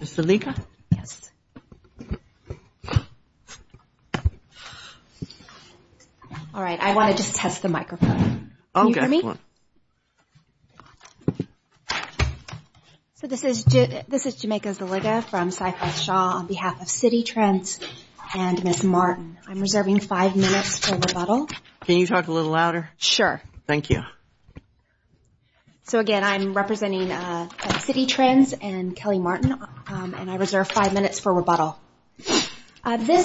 Ms. Zaliga? All right, I want to just test the microphone. This is Jamaica Zaliga from Cypress Shaw on behalf of Citi Trends and Ms. Martin. I'm reserving five minutes for rebuttal. This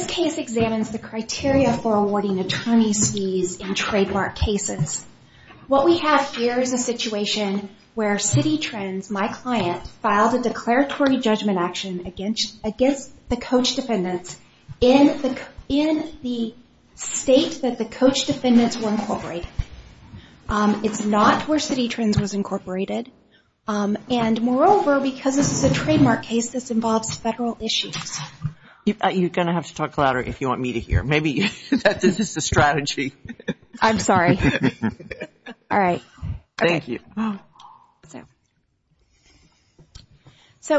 case examines the criteria for awarding attorney's fees in trademark cases. What we have here is a situation where Citi Trends, my client, filed a declaratory judgment action against the coach defendants were incorporated. It's not where Citi Trends was incorporated. Moreover, because this is a trademark case, this involves federal issues. You're going to have to talk louder if you want me to hear. Maybe this is the strategy. I'm sorry.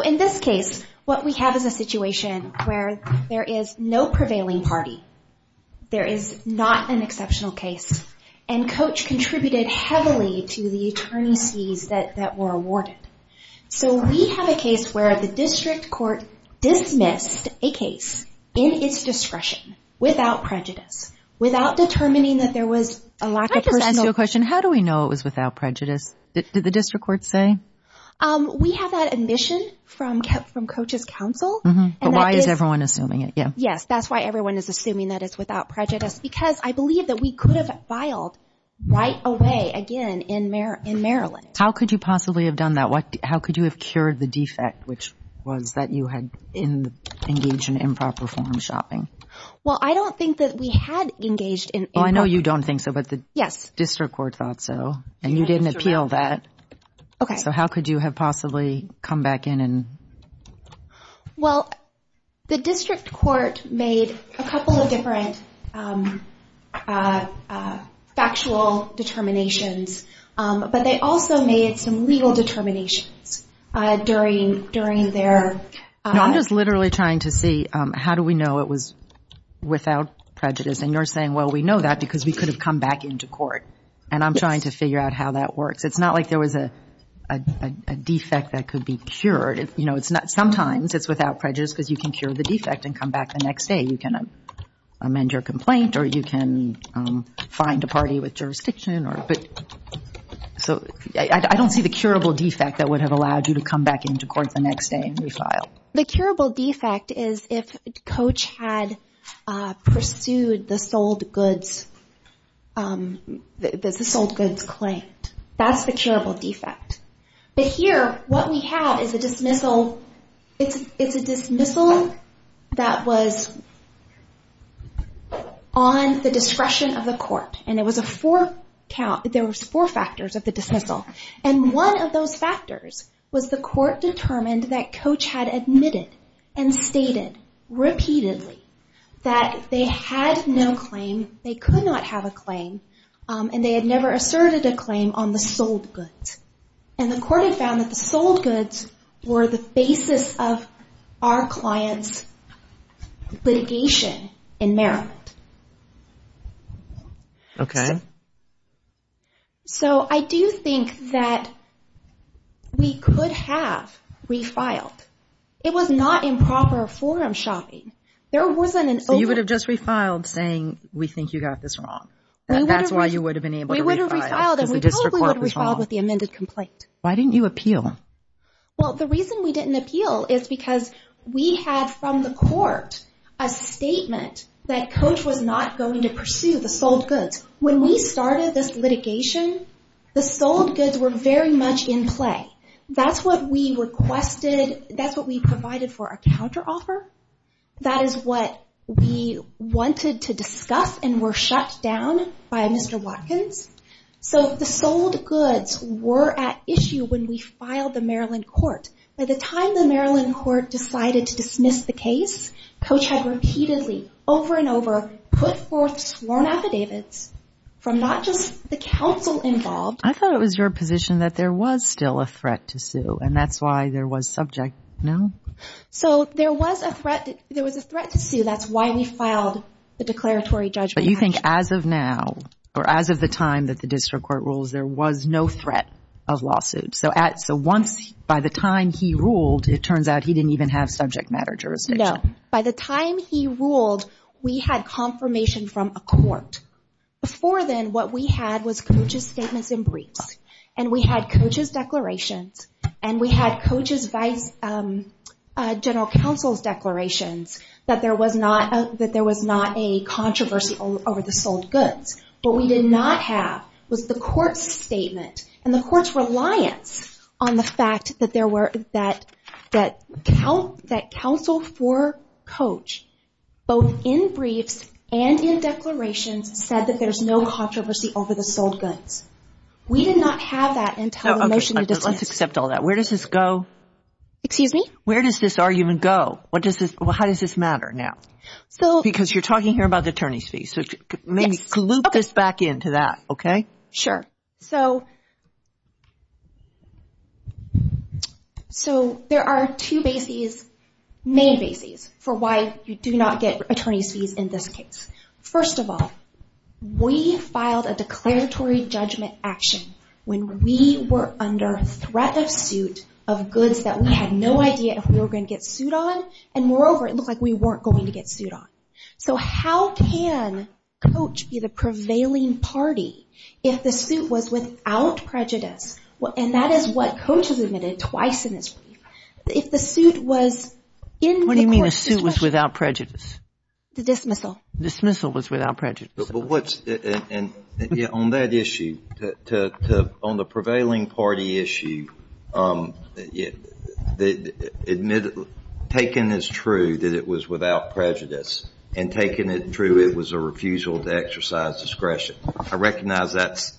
In this case, what we have is a situation where there is no prevailing party. There is not an exceptional case, and Coach contributed heavily to the attorney's fees that were awarded. So we have a case where the district court dismissed a case in its discretion without prejudice, without determining that there was a lack of personal... I just want to ask you a question. How do we know it was without prejudice? Did the district court say? We have that admission from Coach's counsel. But why is everyone assuming it? Yes, that's why everyone is assuming that it's without prejudice, because I believe that we could have filed right away again in Maryland. How could you possibly have done that? How could you have cured the defect, which was that you had engaged in improper form of shopping? Well, I don't think that we had engaged in... Well, I know you don't think so, but the district court thought so, and you didn't appeal that. So how could you have possibly come back in and... Well, the district court made a couple of different factual determinations, but they also made some legal determinations during their... I'm just literally trying to see how do we know it was without prejudice. And you're saying, well, we know that because we could have come back into court, and I'm trying to figure out how that works. It's not like there was a defect that could be cured. Sometimes it's without prejudice because you can cure the defect and come back the next day. You can amend your complaint or you can find a party with jurisdiction. So I don't see the curable defect that would have allowed you to come back into court the next day and refile. The curable defect is if Coach had pursued the sold goods claim. That's the curable defect. But here, what we have is a dismissal that was on the discretion of the court, and there was four factors of the dismissal. And one of those factors was the court determined that Coach had admitted and stated repeatedly that they had no claim, they could not have a claim, and they had never asserted a claim on the sold goods. And the court had found that the sold goods were the basis of our client's litigation in Maryland. Okay. So I do think that we could have refiled. It was not improper forum shopping. You would have just refiled saying we think you got this wrong. That's why you would have been able to refile. Why didn't you appeal? Well, the reason we didn't appeal is because we had from the court a statement that Coach was not going to pursue the sold goods. When we started this litigation, the sold goods were very much in play. That's what we requested. That's what we provided for our counteroffer. That is what we wanted to discuss and were shut down by Mr. Watkins. So the sold goods were at issue when we filed the Maryland court. By the time the Maryland court decided to dismiss the case, Coach had repeatedly, over and over, put forth sworn affidavits from not just the counsel involved. I thought it was your position that there was still a threat to sue, and that's why there was subject. No? So there was a threat to sue. That's why we filed the declaratory judgment. But you think as of now, or as of the time that the district court rules, there was no threat of lawsuit. So once, by the time he ruled, it turns out he didn't even have subject matter jurisdiction. No. By the time he ruled, we had confirmation from a court. Before then, what we had was Coach's statements and briefs, and we had Coach's declarations, and we had Coach's vice general counsel's declarations that there was not a controversial lawsuit. What we did not have was the court's statement and the court's reliance on the fact that there were, that counsel for Coach, both in briefs and in declarations, said that there's no controversy over the sold goods. We did not have that until the motion was dismissed. So let's accept all that. Where does this go? Excuse me? Where does this argument go? How does this matter now? Because you're talking here about the attorney's fees, so maybe loop this back into that, okay? Sure. So there are two main bases for why you do not get attorney's fees in this case. First of all, we filed a declaratory judgment action when we were under threat. It was a threat of suit of goods that we had no idea if we were going to get sued on, and moreover, it looked like we weren't going to get sued on. So how can Coach be the prevailing party if the suit was without prejudice, and that is what Coach has admitted twice in his brief, if the suit was in the court's discretion? What do you mean the suit was without prejudice? The dismissal. On that issue, on the prevailing party issue, taken as true that it was without prejudice, and taken as true it was a refusal to exercise discretion, I recognize that's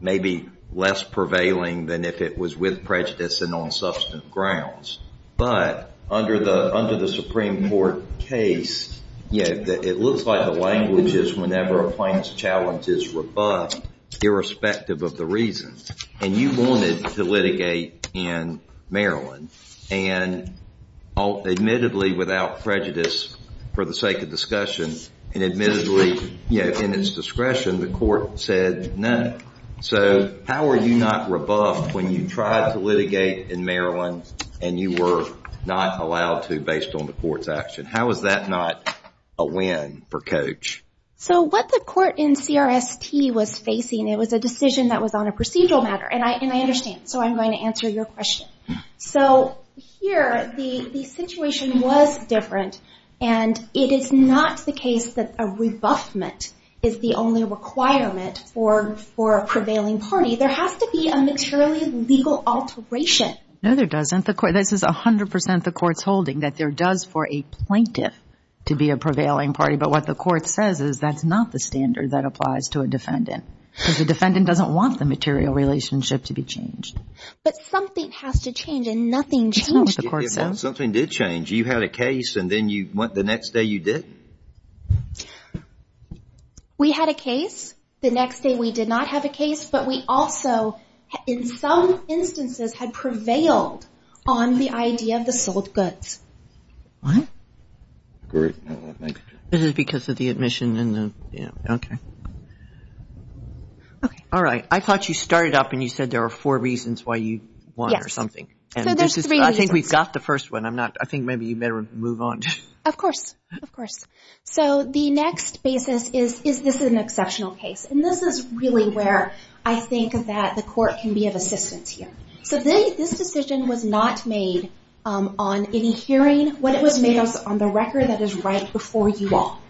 maybe less prevailing than if it was with prejudice and on substantive grounds. But under the Supreme Court case, it looks like the language is whenever a plaintiff's challenge is rebuffed, irrespective of the reason. And you wanted to litigate in Maryland, and admittedly without prejudice for the sake of discussion, and admittedly in its discretion, the court said no. So how are you not rebuffed when you tried to litigate in Maryland, and you were not allowed to based on the court's action? How is that not a win for Coach? So what the court in CRST was facing, it was a decision that was on a procedural matter. And I understand, so I'm going to answer your question. So here, the situation was different, and it is not the case that a rebuffment is the only requirement for a prevailing party. There has to be a materially legal alteration. No, there doesn't. This is 100% the court's holding that there does for a plaintiff to be a prevailing party. But what the court says is that's not the standard that applies to a defendant. Because the defendant doesn't want the material relationship to be changed. But something has to change, and nothing changed. Something did change. You had a case, and then the next day you didn't? We had a case. The next day we did not have a case. But we also, in some instances, had prevailed on the idea of the sold goods. What? This is because of the admission. Alright, I thought you started up and you said there were four reasons why you won or something. I think we've got the first one. I think maybe you better move on. Of course. So the next basis is, is this an exceptional case? And this is really where I think that the court can be of assistance here. So this decision was not made on any hearing. It was made on the record that is right before you all.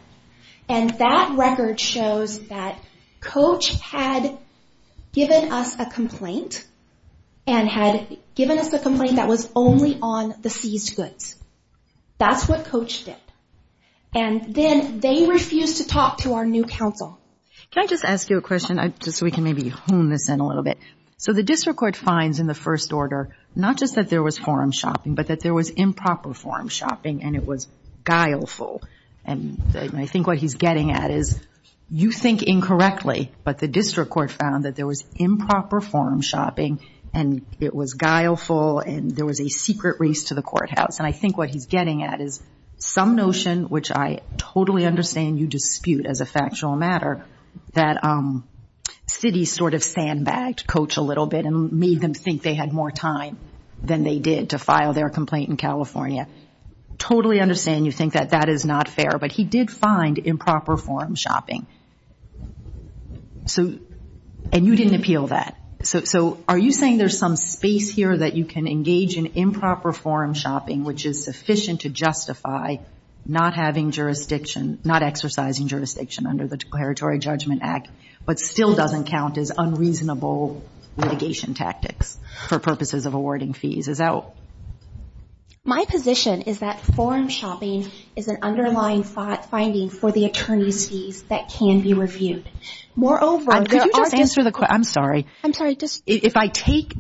And that record shows that Coach had given us a complaint, and had given us a complaint that was only on the seized goods. That's what Coach did. And then they refused to talk to our new counsel. Can I just ask you a question, just so we can maybe hone this in a little bit? So the district court finds in the first order, not just that there was forum shopping, but that there was improper forum shopping, and it was guileful. And I think what he's getting at is, you think incorrectly, but the district court found that there was improper forum shopping, and it was guileful, and there was a secret race to the courthouse. And I think what he's getting at is some notion, which I totally understand you dispute as a factual matter, that Citi sort of sandbagged Coach a little bit and made them think they had more time I totally understand you think that that is not fair, but he did find improper forum shopping. And you didn't appeal that. So are you saying there's some space here that you can engage in improper forum shopping, which is sufficient to justify not exercising jurisdiction under the Territory Judgment Act, but still doesn't count as unreasonable litigation tactics for purposes of awarding fees? My position is that forum shopping is an underlying finding for the attorneys' fees that can be reviewed. Moreover, there are district courts.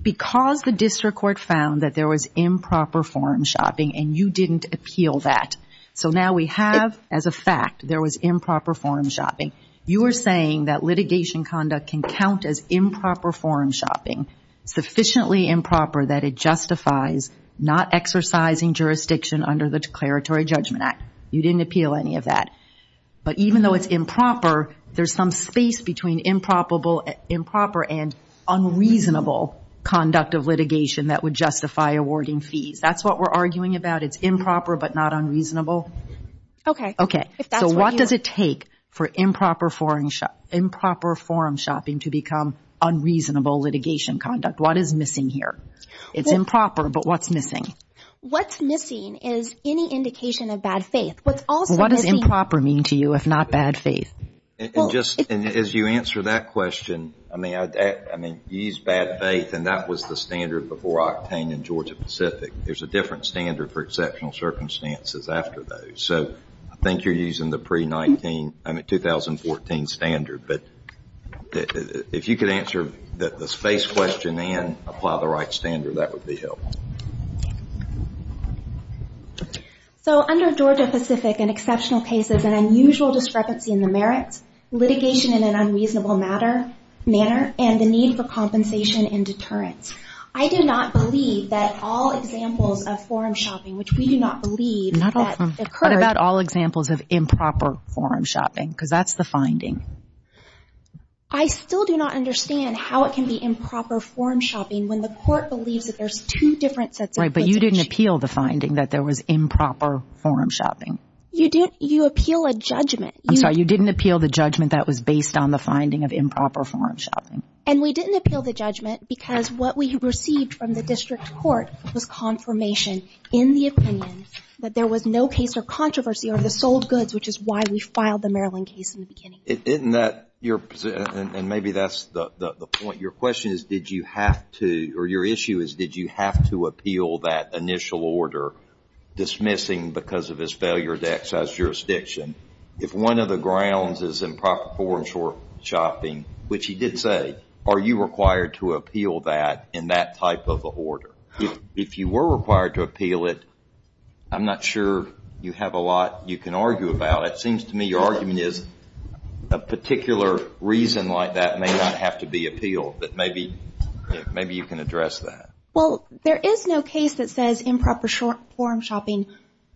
Because the district court found that there was improper forum shopping, and you didn't appeal that. So now we have, as a fact, there was improper forum shopping. You are saying that litigation conduct can count as improper forum shopping, sufficiently improper that it justifies not exercising jurisdiction under the Declaratory Judgment Act. You didn't appeal any of that. But even though it's improper, there's some space between improper and unreasonable conduct of litigation that would justify awarding fees. That's what we're arguing about. It's improper but not unreasonable. Okay. So what does it take for improper forum shopping to become unreasonable litigation conduct? What is missing here? It's improper, but what's missing? What's missing is any indication of bad faith. What does improper mean to you, if not bad faith? As you answer that question, I mean, you used bad faith, and that was the standard before Octane and Georgia Pacific. There's a different standard for exceptional circumstances after those. So I think you're using the pre-2014 standard. But if you could answer the space question and apply the right standard, that would be helpful. So under Georgia Pacific, an exceptional case is an unusual discrepancy in the merits, litigation in an unreasonable manner, and the need for compensation and deterrence. I do not believe that all examples of forum shopping, which we do not believe that occurred. What about all examples of improper forum shopping? Because that's the finding. I still do not understand how it can be improper forum shopping when the court believes that there's two different sets of goods. Right, but you didn't appeal the finding that there was improper forum shopping. You appeal a judgment. I'm sorry, you didn't appeal the judgment that was based on the finding of improper forum shopping. And we didn't appeal the judgment because what we received from the district court was confirmation in the opinion that there was no case or controversy over the sold goods, which is why we filed the Maryland case in the beginning. And maybe that's the point. Your question is, did you have to, or your issue is, did you have to appeal that initial order dismissing because of his failure to exercise jurisdiction? If one of the grounds is improper forum shopping, which he did say, are you required to appeal that in that type of an order? If you were required to appeal it, I'm not sure you have a lot you can argue about. It seems to me your argument is a particular reason like that may not have to be appealed. But maybe you can address that. Well, there is no case that says improper forum shopping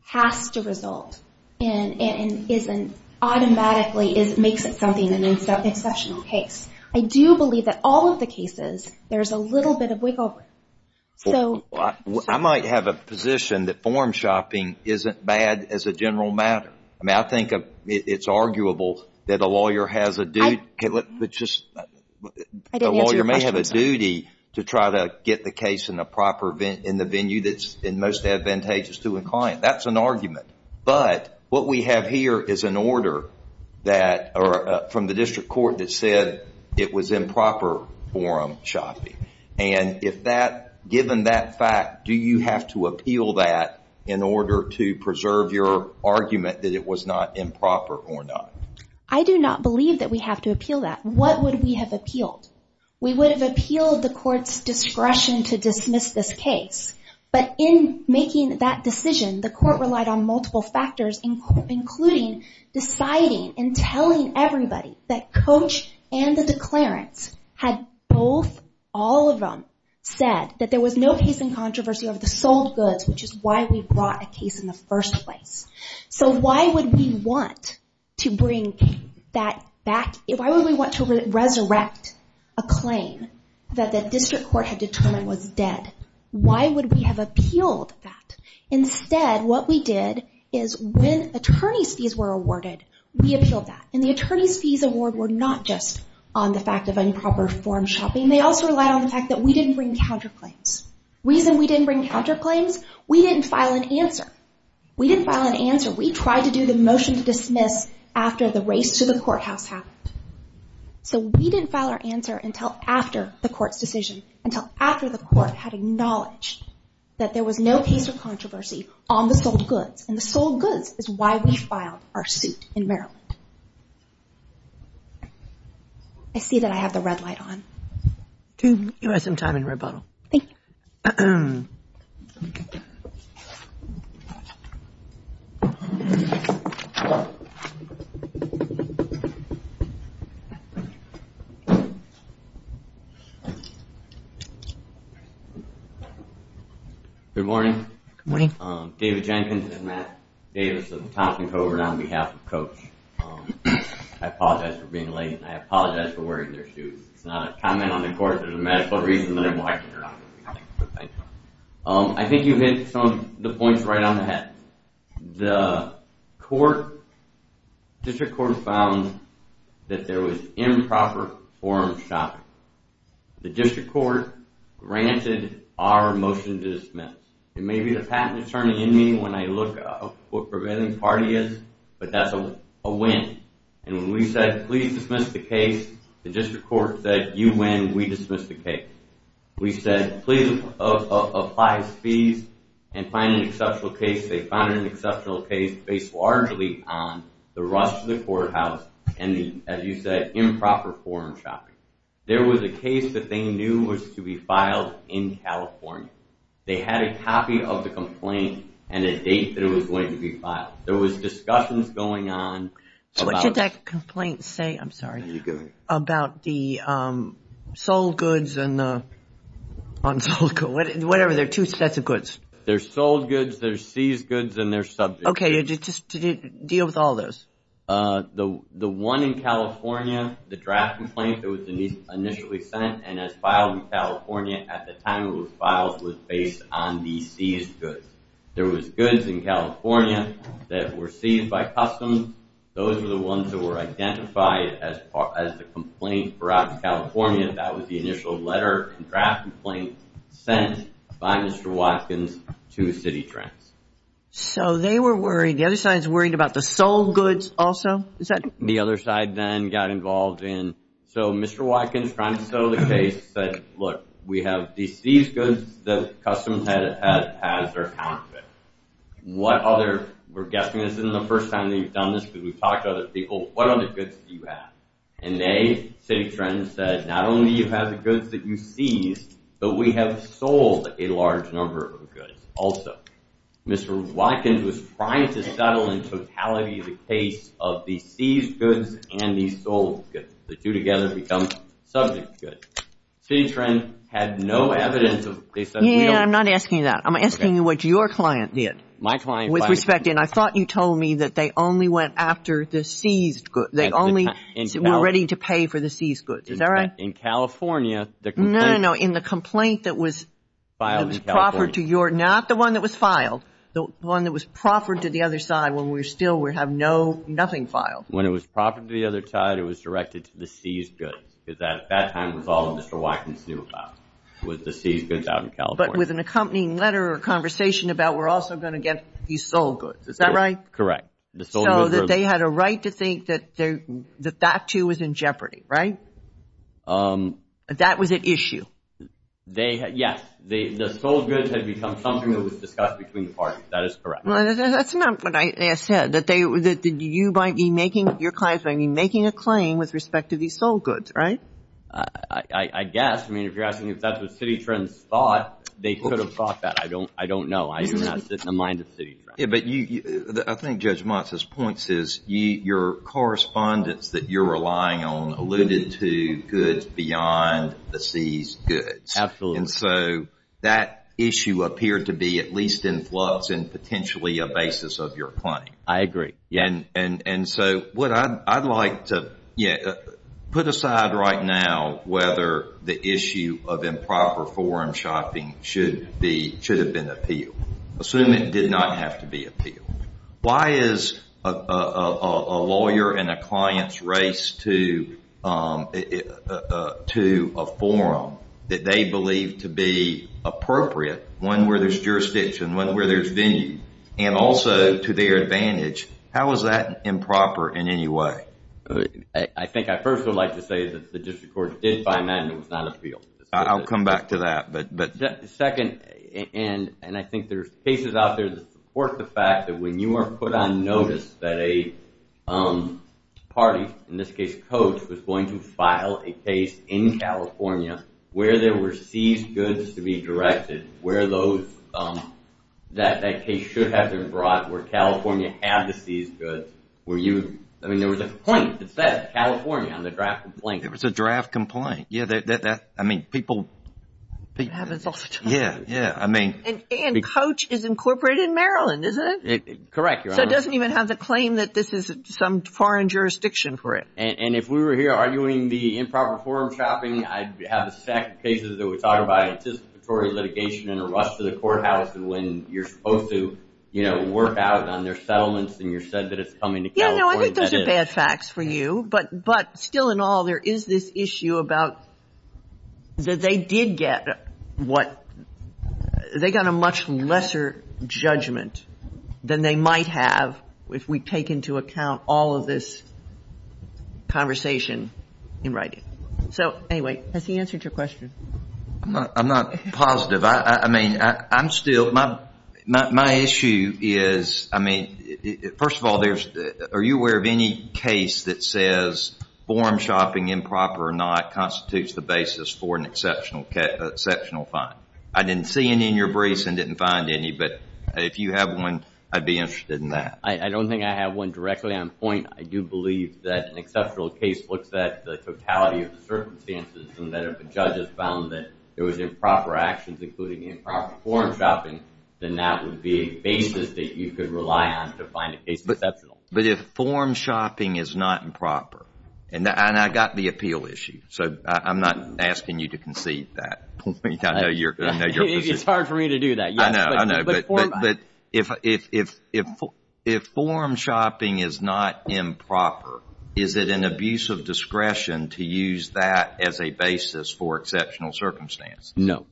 has to result and automatically makes it something, an exceptional case. I do believe that all of the cases, there's a little bit of wiggle room. I might have a position that forum shopping isn't bad as a general matter. I think it's arguable that a lawyer may have a duty to try to get the case in the venue that's most advantageous to a client. That's an argument. But what we have here is an order from the district court that said it was improper forum shopping. And given that fact, do you have to appeal that in order to preserve your argument that it was not improper forum shopping? I do not believe that we have to appeal that. What would we have appealed? We would have appealed the court's discretion to dismiss this case. But in making that decision, the court relied on multiple factors, including deciding and telling everybody that coach and the declarants had both, all of them said that there was no case in controversy over the sold goods, which is why we brought a case in the first place. So why would we want to bring that back? Why would we want to resurrect a claim that the district court had determined was dead? Why would we have appealed that? Instead, what we did is when attorney's fees were awarded, we appealed that. And the attorney's fees award were not just on the fact of improper forum shopping. They also relied on the fact that we didn't bring counterclaims. The reason we didn't bring counterclaims, we didn't file an answer. We didn't file an answer. We tried to do the motion to dismiss after the race to the courthouse happened. So we didn't file our answer until after the court's decision, until after the court had acknowledged that there was no case of controversy on the sold goods. And the sold goods is why we filed our suit in Maryland. I see that I have the red light on. You have some time in rebuttal. Thank you. Good morning. I apologize for being late and I apologize for wearing their shoes. I think you hit some of the points right on the head. The district court found that there was improper forum shopping. The district court granted our motion to dismiss. It may be the patent attorney in me when I look up what prevailing party is, but that's a win. And when we said, please dismiss the case, the district court said, you win, we dismiss the case. We said, please apply as fees and find an exceptional case. They found an exceptional case based largely on the rush to the courthouse and the, as you said, improper forum shopping. There was a case that they knew was to be filed in California. They had a copy of the complaint and a date that it was going to be filed. There was discussions going on. What should that complaint say about the sold goods and the unsold goods? Whatever, there are two sets of goods. There's sold goods, there's seized goods, and there's subject goods. The one in California, the draft complaint that was initially sent and has filed in California at the time it was filed was based on the seized goods. There was goods in California that were seized by customs. Those were the ones that were identified as the complaint brought to California. That was the initial letter and draft complaint sent by Mr. Watkins to Cititrends. So they were worried. The other side's worried about the sold goods also? The other side then got involved in. So Mr. Watkins, trying to settle the case, said, look, we have these seized goods that customs has their account of it. What other, we're guessing this isn't the first time that you've done this because we've talked to other people, what other goods do you have? And they, Cititrends, said, not only do you have the goods that you seized, but we have sold a large number of goods also. Mr. Watkins was trying to settle in totality the case of the seized goods and the sold goods. The two together become subject goods. Cititrends had no evidence. Yeah, I'm not asking that. I'm asking you what your client did with respect. And I thought you told me that they only went after the seized goods. They only were ready to pay for the seized goods. Is that right? No, no, no. In the complaint that was filed in California. The one that was proffered to the other side when we still have nothing filed. When it was proffered to the other side, it was directed to the seized goods. Because at that time it was all Mr. Watkins knew about with the seized goods out in California. But with an accompanying letter or conversation about we're also going to get these sold goods. Is that right? Correct. So that they had a right to think that that too was in jeopardy, right? That was at issue. Yes. The sold goods had become something that was discussed between the parties. That is correct. That's not what I said. Your client might be making a claim with respect to these sold goods, right? I guess. I mean, if you're asking if that's what Cititrends thought, they could have thought that. I don't know. I do not sit in the mind of Cititrends. I think Judge Montes' points is your correspondence that you're relying on alluded to goods beyond the seized goods. Absolutely. And so that issue appeared to be at least in flux and potentially a basis of your claim. I agree. And so what I'd like to put aside right now whether the issue of improper forum shopping should have been appealed. Assume it did not have to be appealed. Why is a lawyer and a client's race to a forum that they believe to be appropriate, one where there's jurisdiction, one where there's venue, and also to their advantage, how is that improper in any way? I think I first would like to say that the district court did find that and it was not appealed. I'll come back to that. Second, and I think there's cases out there that support the fact that when you are put on notice that a party, in this case Coach, was going to file a case in California where there were seized goods to be directed, where that case should have been brought, where California had the seized goods, I mean there was a complaint that said California on the draft complaint. There was a draft complaint. And Coach is incorporated in Maryland, isn't it? Correct, Your Honor. So it doesn't even have the claim that this is some foreign jurisdiction for it. And if we were here arguing the improper forum shopping, I'd have a stack of cases that would talk about anticipatory litigation and a rush to the courthouse when you're supposed to work out on their settlements and you're said that it's coming to California. I think those are bad facts for you. But still in all there is this issue about that they did get what, they got a much lesser judgment than they might have if we take into account all of this conversation in writing. So anyway, has he answered your question? I'm not positive. I mean, I'm still, my issue is, first of all, are you aware of any case that says forum shopping improper or not constitutes the basis for an exceptional fine? I didn't see any in your briefs and didn't find any, but if you have one, I'd be interested in that. I don't think I have one directly on point. I do believe that an exceptional case looks at the totality of the circumstances and that if a judge has found that there was improper actions, including improper forum shopping, then that would be a basis that you could rely on to find a case exceptional. But if forum shopping is not improper, and I got the appeal issue, so I'm not asking you to concede that. It's hard for me to do that. But if forum shopping is not improper, is it an abuse of discretion to use that as a basis for exceptional circumstances? No.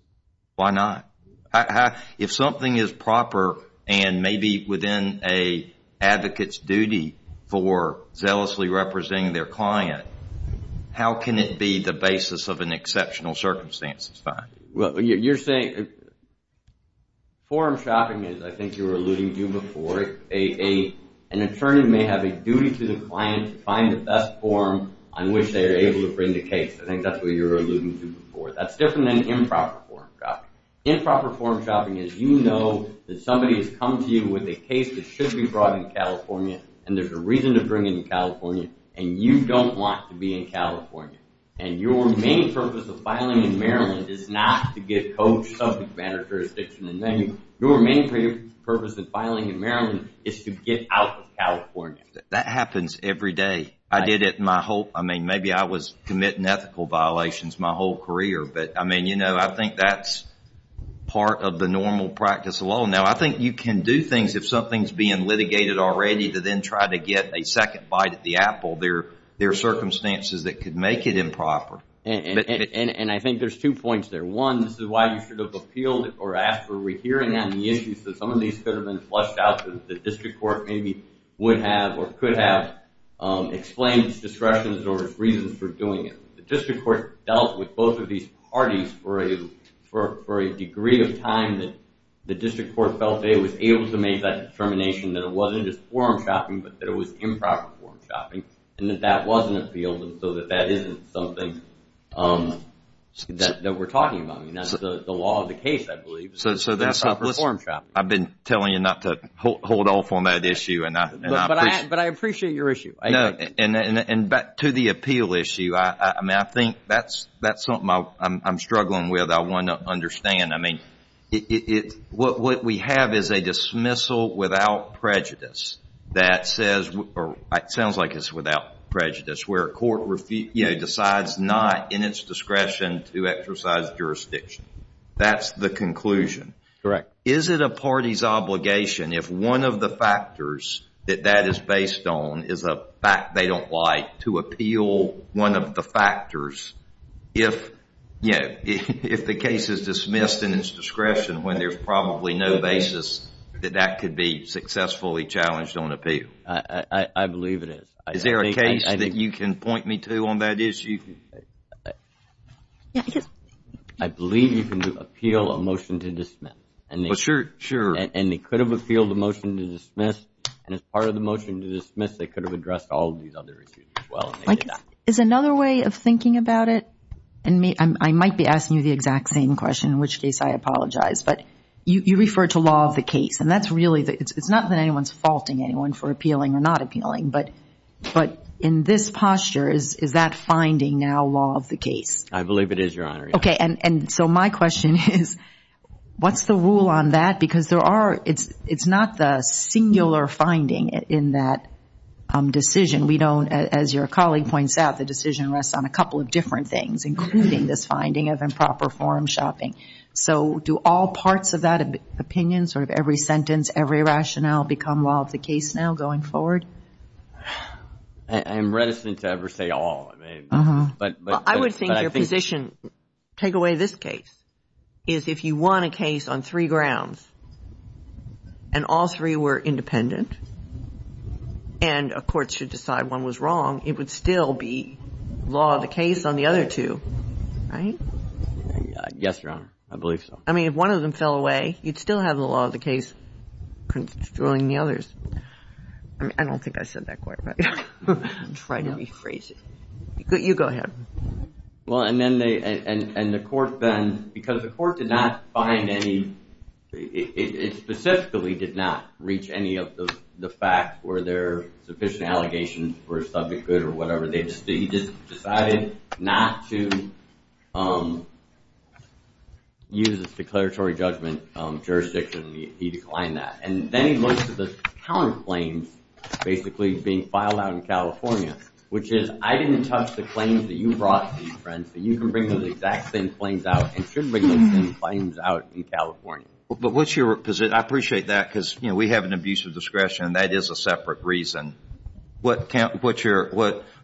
Why not? If something is proper and maybe within an advocate's duty for zealously representing their client, how can it be the basis of an exceptional circumstances fine? Forum shopping is, I think you were alluding to before, an attorney may have a duty to the client to find the best forum on which they are able to bring the case. I think that's what you were alluding to before. That's different than improper forum shopping. Improper forum shopping is you know that somebody has come to you with a case that should be brought in California and there's a reason to bring it in California and you don't want to be in California. And your main purpose of filing in Maryland is not to get coached subject matter, jurisdiction and venue. Your main purpose of filing in Maryland is to get out of California. That happens every day. Maybe I was committing ethical violations my whole career, but I think that's part of the normal practice of law. Now I think you can do things if something is being litigated already to then try to get a second bite at the apple. There are circumstances that could make it improper. And I think there's two points there. One, this is why you should have appealed or asked for a rehearing on the issues that some of these could have been flushed out that the district court maybe would have or could have explained its discretion or its reasons for doing it. The district court dealt with both of these parties for a degree of time that the district court felt it was able to make that determination that it wasn't just forum shopping, but that it was improper forum shopping and that that wasn't appealed. And so that isn't something that we're talking about. That's the law of the case, I believe. I've been telling you not to hold off on that issue. But I appreciate your issue. And back to the appeal issue, I think that's something I'm struggling with. I want to understand. What we have is a dismissal without prejudice that says, or it sounds like it's without prejudice, where a court decides not in its discretion to exercise jurisdiction. That's the conclusion. Is it a party's obligation if one of the factors that that is based on is a fact they don't like to appeal one of the factors, if the case is dismissed in its discretion when there's probably no basis that that could be successfully challenged on appeal? I believe it is. Is there a case that you can point me to on that issue? I believe you can appeal a motion to dismiss. And they could have appealed the motion to dismiss, and as part of the motion to dismiss, they could have addressed all of these other issues as well. I might be asking you the exact same question, in which case I apologize. But you refer to law of the case, and it's not that anyone's faulting anyone for appealing or not appealing, but in this posture, is that finding now law of the case? I believe it is, Your Honor. Okay, and so my question is, what's the rule on that? Because it's not the singular finding in that decision. We don't, as your colleague points out, the decision rests on a couple of different things, including this finding of improper forum shopping. So do all parts of that opinion, sort of every sentence, every rationale, become law of the case now going forward? I am reticent to ever say all. I would think your position, take away this case, is if you won a case on three grounds and all three were independent and a court should decide one was wrong, it would still be law of the case on the other two, right? Yes, Your Honor, I believe so. I mean, if one of them fell away, you'd still have the law of the case controlling the others. I don't think I said that quite right. Try to rephrase it. You go ahead. And the court then, because the court did not find any, it specifically did not reach any of the facts where there are sufficient allegations for a subject good or whatever. He just decided not to use its declaratory judgment jurisdiction. He declined that. And then he looks at the counterclaims basically being filed out in California, which is I didn't touch the claims that you brought to these friends, that you can bring those exact same claims out and shouldn't bring those same claims out in California. I appreciate that because we have an abuse of discretion and that is a separate reason. What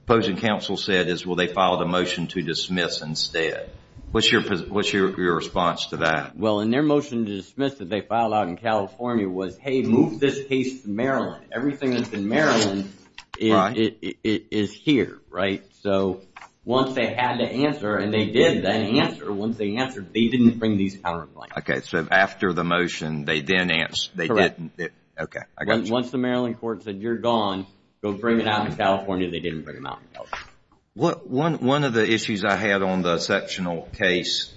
opposing counsel said is, well, they filed a motion to dismiss instead. What's your response to that? Well, in their motion to dismiss that they filed out in California was, hey, move this case to Maryland. Everything that's in Maryland is here, right? So once they had to answer and they did then answer, once they answered, they didn't bring these counterclaims. Okay, so after the motion, they then answered. Once the Maryland court said you're gone, go bring it out in California, they didn't bring them out in California. One of the issues I had on the sectional case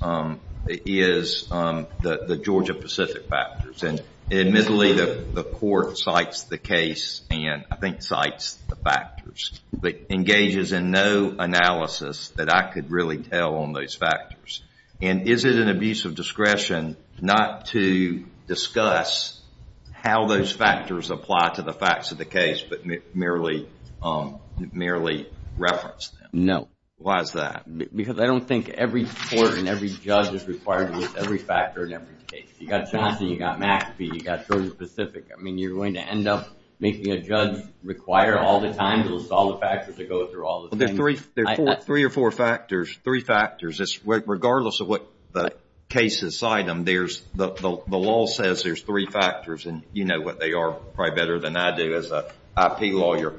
is the Georgia-Pacific factors. Admittedly, the court cites the case and I think cites the factors but engages in no analysis that I could really tell on those factors. And is it an abuse of discretion not to discuss how those factors apply to the facts of the case but merely reference them? No. Why is that? Because I don't think every court and every judge is required to look at every factor in every case. You've got Johnson, you've got McAfee, you've got Georgia-Pacific. I mean, you're going to end up making a judge require all the time to list all the factors to go through all the things. There are three or four factors, three factors. Regardless of what cases cite them, the law says there's three factors and you know what they are probably better than I do as an IP lawyer.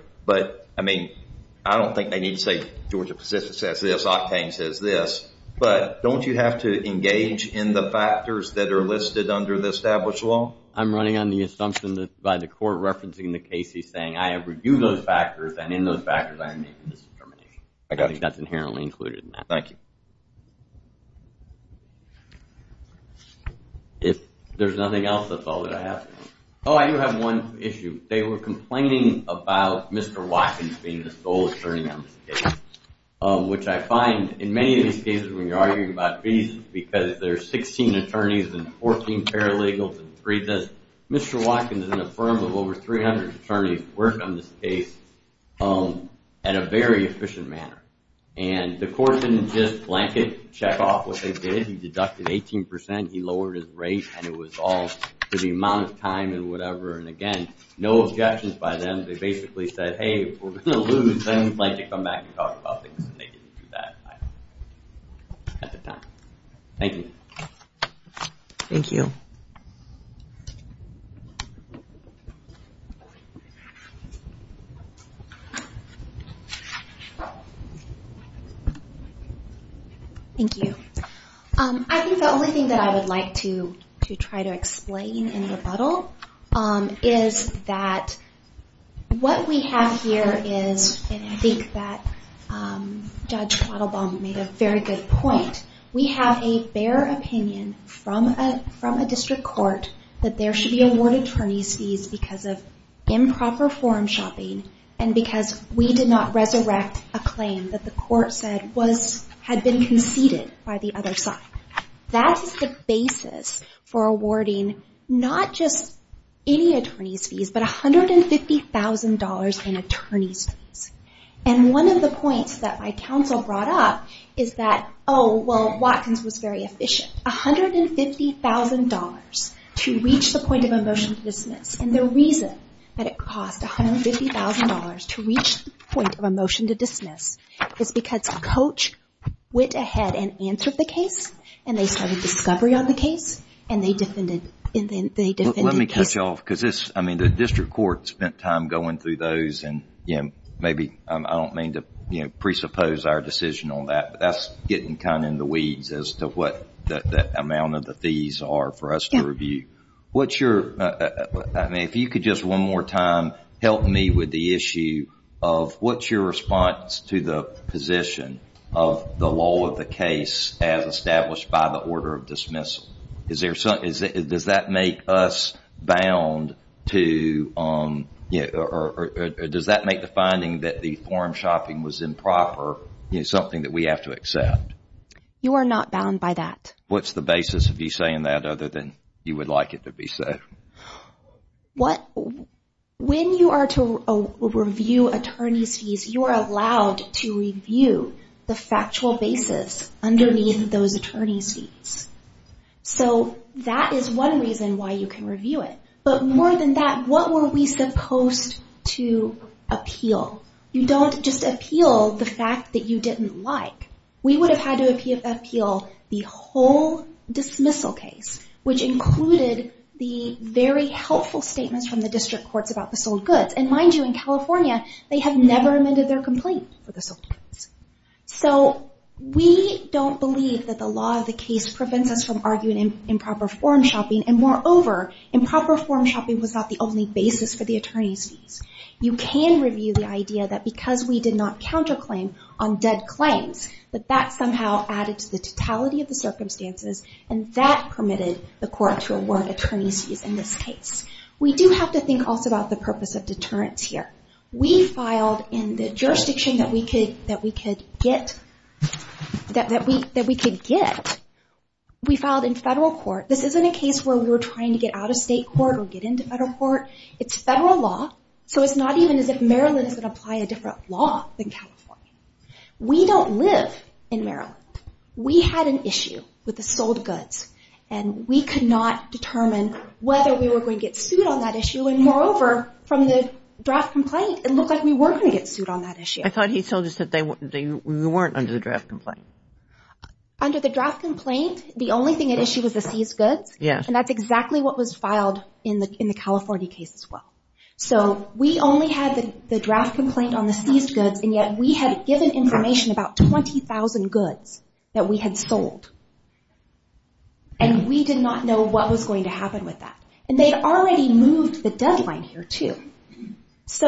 I don't think they need to say Georgia-Pacific says this, Octane says this. But don't you have to engage in the factors that are listed under the established law? Well, I'm running on the assumption that by the court referencing the case he's saying I have reviewed those factors and in those factors I am making this determination. I think that's inherently included in that. Thank you. Oh, I do have one issue. They were complaining about Mr. Watkins being the sole attorney on this case, which I find in many of these cases when you're arguing about fees, because there's 16 attorneys and 14 paralegals and 3 this. Mr. Watkins and a firm of over 300 attorneys work on this case in a very efficient manner. And the court didn't just blank it, check off what they did. He deducted 18%, he lowered his rate, and it was all to the amount of time and whatever. And again, no objections by them. They basically said, hey, if we're going to lose, then we'd like to come back and talk about things. Thank you. Thank you. Thank you. I think the only thing that I would like to try to explain in rebuttal is that what we have here is, and I think that Judge Quattlebaum made a very good point, we have a bare opinion from a district court that there should be award attorney fees because of improper form shopping and because we did not resurrect a claim that the court said had been conceded by the other side. That is the basis for awarding not just any attorney's fees, but $150,000 in attorney's fees. And one of the points that my counsel brought up is that, oh, well, Watkins was very efficient. $150,000 to reach the point of a motion to dismiss. And the reason that it cost $150,000 to reach the point of a motion to dismiss is because Coach went ahead and answered the case, and they started discovery on the case, and they defended the case. Let me cut you off because the district court spent time going through those, and I don't mean to presuppose our decision on that, but that's getting kind of in the weeds as to what the amount of the fees are for us to review. I mean, if you could just one more time help me with the issue of what's your response to the position of the law of the case as established by the order of dismissal? Does that make the finding that the form shopping was improper something that we have to accept? You are not bound by that. What's the basis of you saying that other than you would like it to be so? When you are to review attorney's fees, you are allowed to review the factual basis underneath those attorney's fees. So that is one reason why you can review it. But more than that, what were we supposed to appeal? You don't just appeal the fact that you didn't like. We would have had to appeal the whole dismissal case, which included the very helpful statements from the district courts about the sold goods. And mind you, in California, they have never amended their complaint for the sold goods. So we don't believe that the law of the case prevents us from arguing improper form shopping, and moreover, improper form shopping was not the only basis for the attorney's fees. You can review the idea that because we did not counterclaim on dead claims, that that somehow added to the totality of the circumstances, and that permitted the court to award attorney's fees in this case. We do have to think also about the purpose of deterrence here. We filed in the jurisdiction that we could get, we filed in federal court. This isn't a case where we were trying to get out of state court or get into federal court. It's federal law, so it's not even as if Maryland is going to apply a different law than California. We don't live in Maryland. We had an issue with the sold goods, and we could not determine whether we were going to get sued on that issue, and moreover, from the draft complaint, it looked like we were going to get sued on that issue. I thought he told us that we weren't under the draft complaint. Under the draft complaint, the only thing at issue was the seized goods, and that's exactly what was filed in the California case as well. We only had the draft complaint on the seized goods, and yet we had given information about 20,000 goods that we had sold, and we did not know what was going to happen with that. They had already moved the deadline here, too.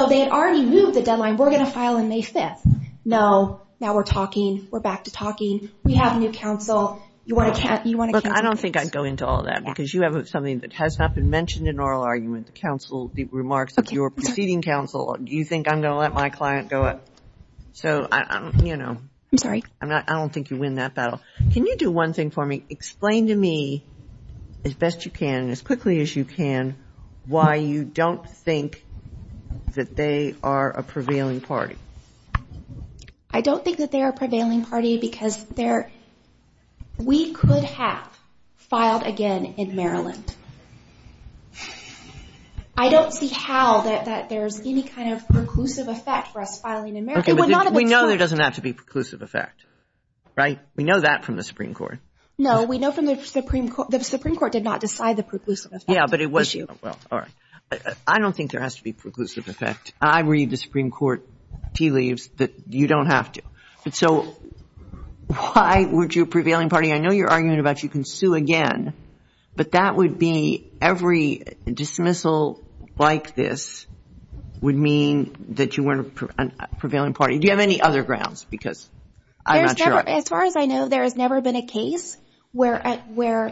They had already moved the deadline. We're going to file on May 5th. No. Now we're talking. We're back to talking. We have a new counsel. You want to cancel this? I don't think I'd go into all that because you have something that has not been mentioned in oral argument, the remarks of your preceding counsel. Do you think I'm going to let my client go up? I don't think you win that battle. Can you do one thing for me? Explain to me as best you can, as quickly as you can, why you don't think that they are a prevailing party. I don't think that they are a prevailing party because we could have filed again in Maryland. I don't see how that there's any kind of preclusive effect for us filing in Maryland. We know there doesn't have to be preclusive effect, right? We know that from the Supreme Court. No, we know from the Supreme Court. The Supreme Court did not decide the preclusive effect. I don't think there has to be preclusive effect. I read the Supreme Court tea leaves that you don't have to. So why would you, a prevailing party, I know you're arguing about you can sue again, but that would be every dismissal like this would mean that you weren't a prevailing party. Do you have any other grounds? As far as I know, there has never been a case where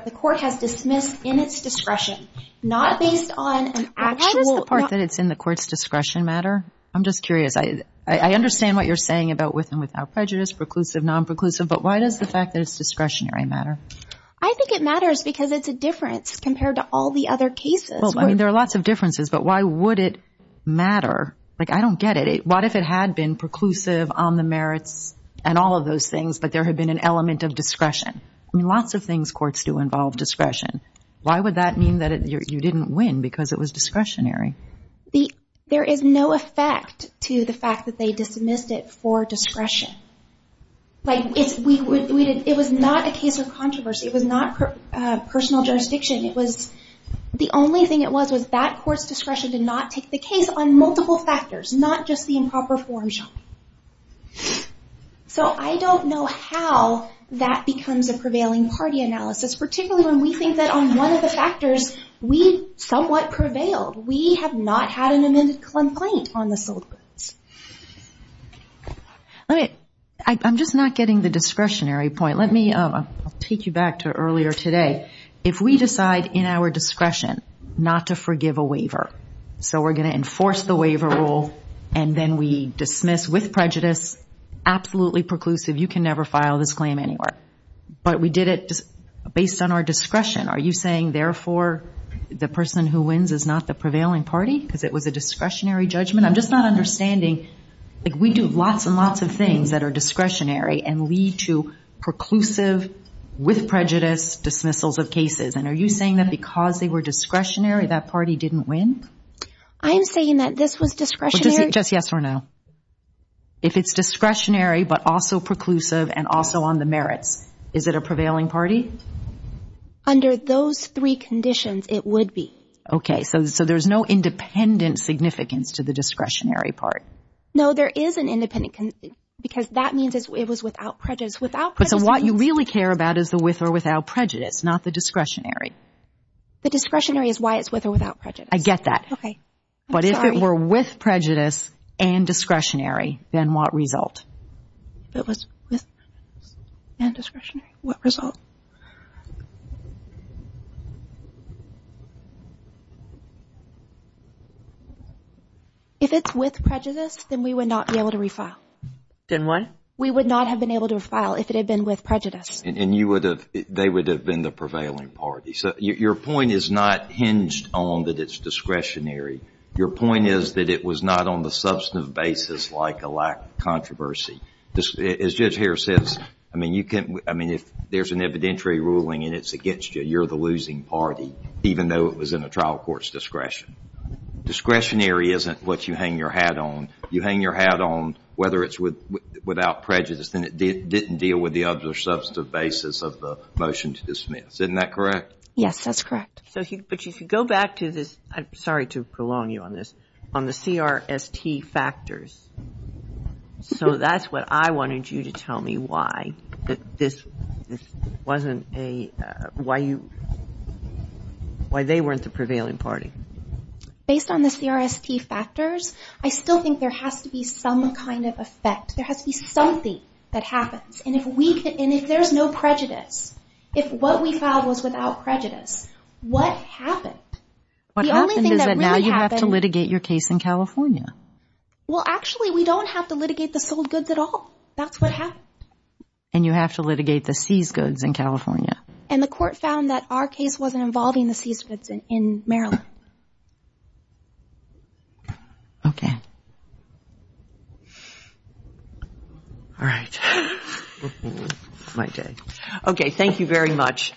the court has dismissed in its discretion, not based on an actual. I'm just curious. I understand what you're saying about with and without prejudice, preclusive, non-preclusive, but why does the fact that it's discretionary matter? I think it matters because it's a difference compared to all the other cases. There are lots of differences, but why would it matter? I don't get it. What if it had been preclusive on the merits and all of those things, but there had been an element of discretion? Lots of things courts do involve discretion. Why would that mean that you didn't win because it was discretionary? There is no effect to the fact that they dismissed it for discretion. It was not a case of controversy. It was not personal jurisdiction. The only thing it was was that court's discretion to not take the case on multiple factors, not just the improper forms. I don't know how that becomes a prevailing party analysis, particularly when we think that on one of the factors, we somewhat prevailed. We have not had an amended complaint on the sold goods. I'm just not getting the discretionary point. I'll take you back to earlier today. If we decide in our discretion not to forgive a waiver, so we're going to enforce the waiver rule, and then we dismiss with prejudice, absolutely preclusive, you can never file this claim anywhere. But we did it based on our discretion. Are you saying, therefore, the person who wins is not the prevailing party because it was a discretionary judgment? I'm just not understanding. We do lots and lots of things that are discretionary and lead to preclusive with prejudice dismissals of cases. Are you saying that because they were discretionary, that party didn't win? I'm saying that this was discretionary. Is it just yes or no? If it's discretionary but also preclusive and also on the merits, is it a prevailing party? Under those three conditions, it would be. Okay. So there's no independent significance to the discretionary part? No, there is an independent, because that means it was without prejudice. But what you really care about is the with or without prejudice, not the discretionary. The discretionary is why it's with or without prejudice. I get that. But if it were with prejudice and discretionary, then what result? If it's with prejudice, then we would not be able to refile. We would not have been able to refile if it had been with prejudice. And they would have been the prevailing party. So your point is not hinged on that it's discretionary. Your point is that it was not on the substantive basis like a lack of controversy. As Judge Harris says, if there's an evidentiary ruling and it's against you, you're the losing party, even though it was in a trial court's discretion. Discretionary isn't what you hang your hat on. You hang your hat on whether it's without prejudice, then it didn't deal with the other substantive basis of the motion to dismiss. Isn't that correct? Yes, that's correct. But if you go back to this, I'm sorry to prolong you on this, on the CRST factors. So that's what I wanted you to tell me why this wasn't a, why you, why they weren't the prevailing party. Based on the CRST factors, I still think there has to be some kind of effect. There has to be something that happens. And if there's no prejudice, if what we filed was without prejudice, what happened? What happened is that now you have to litigate your case in California. Well, actually, we don't have to litigate the sold goods at all. And you have to litigate the seized goods in California. And the court found that our case wasn't involving the seized goods in Maryland. Okay. All right. Okay, thank you very much.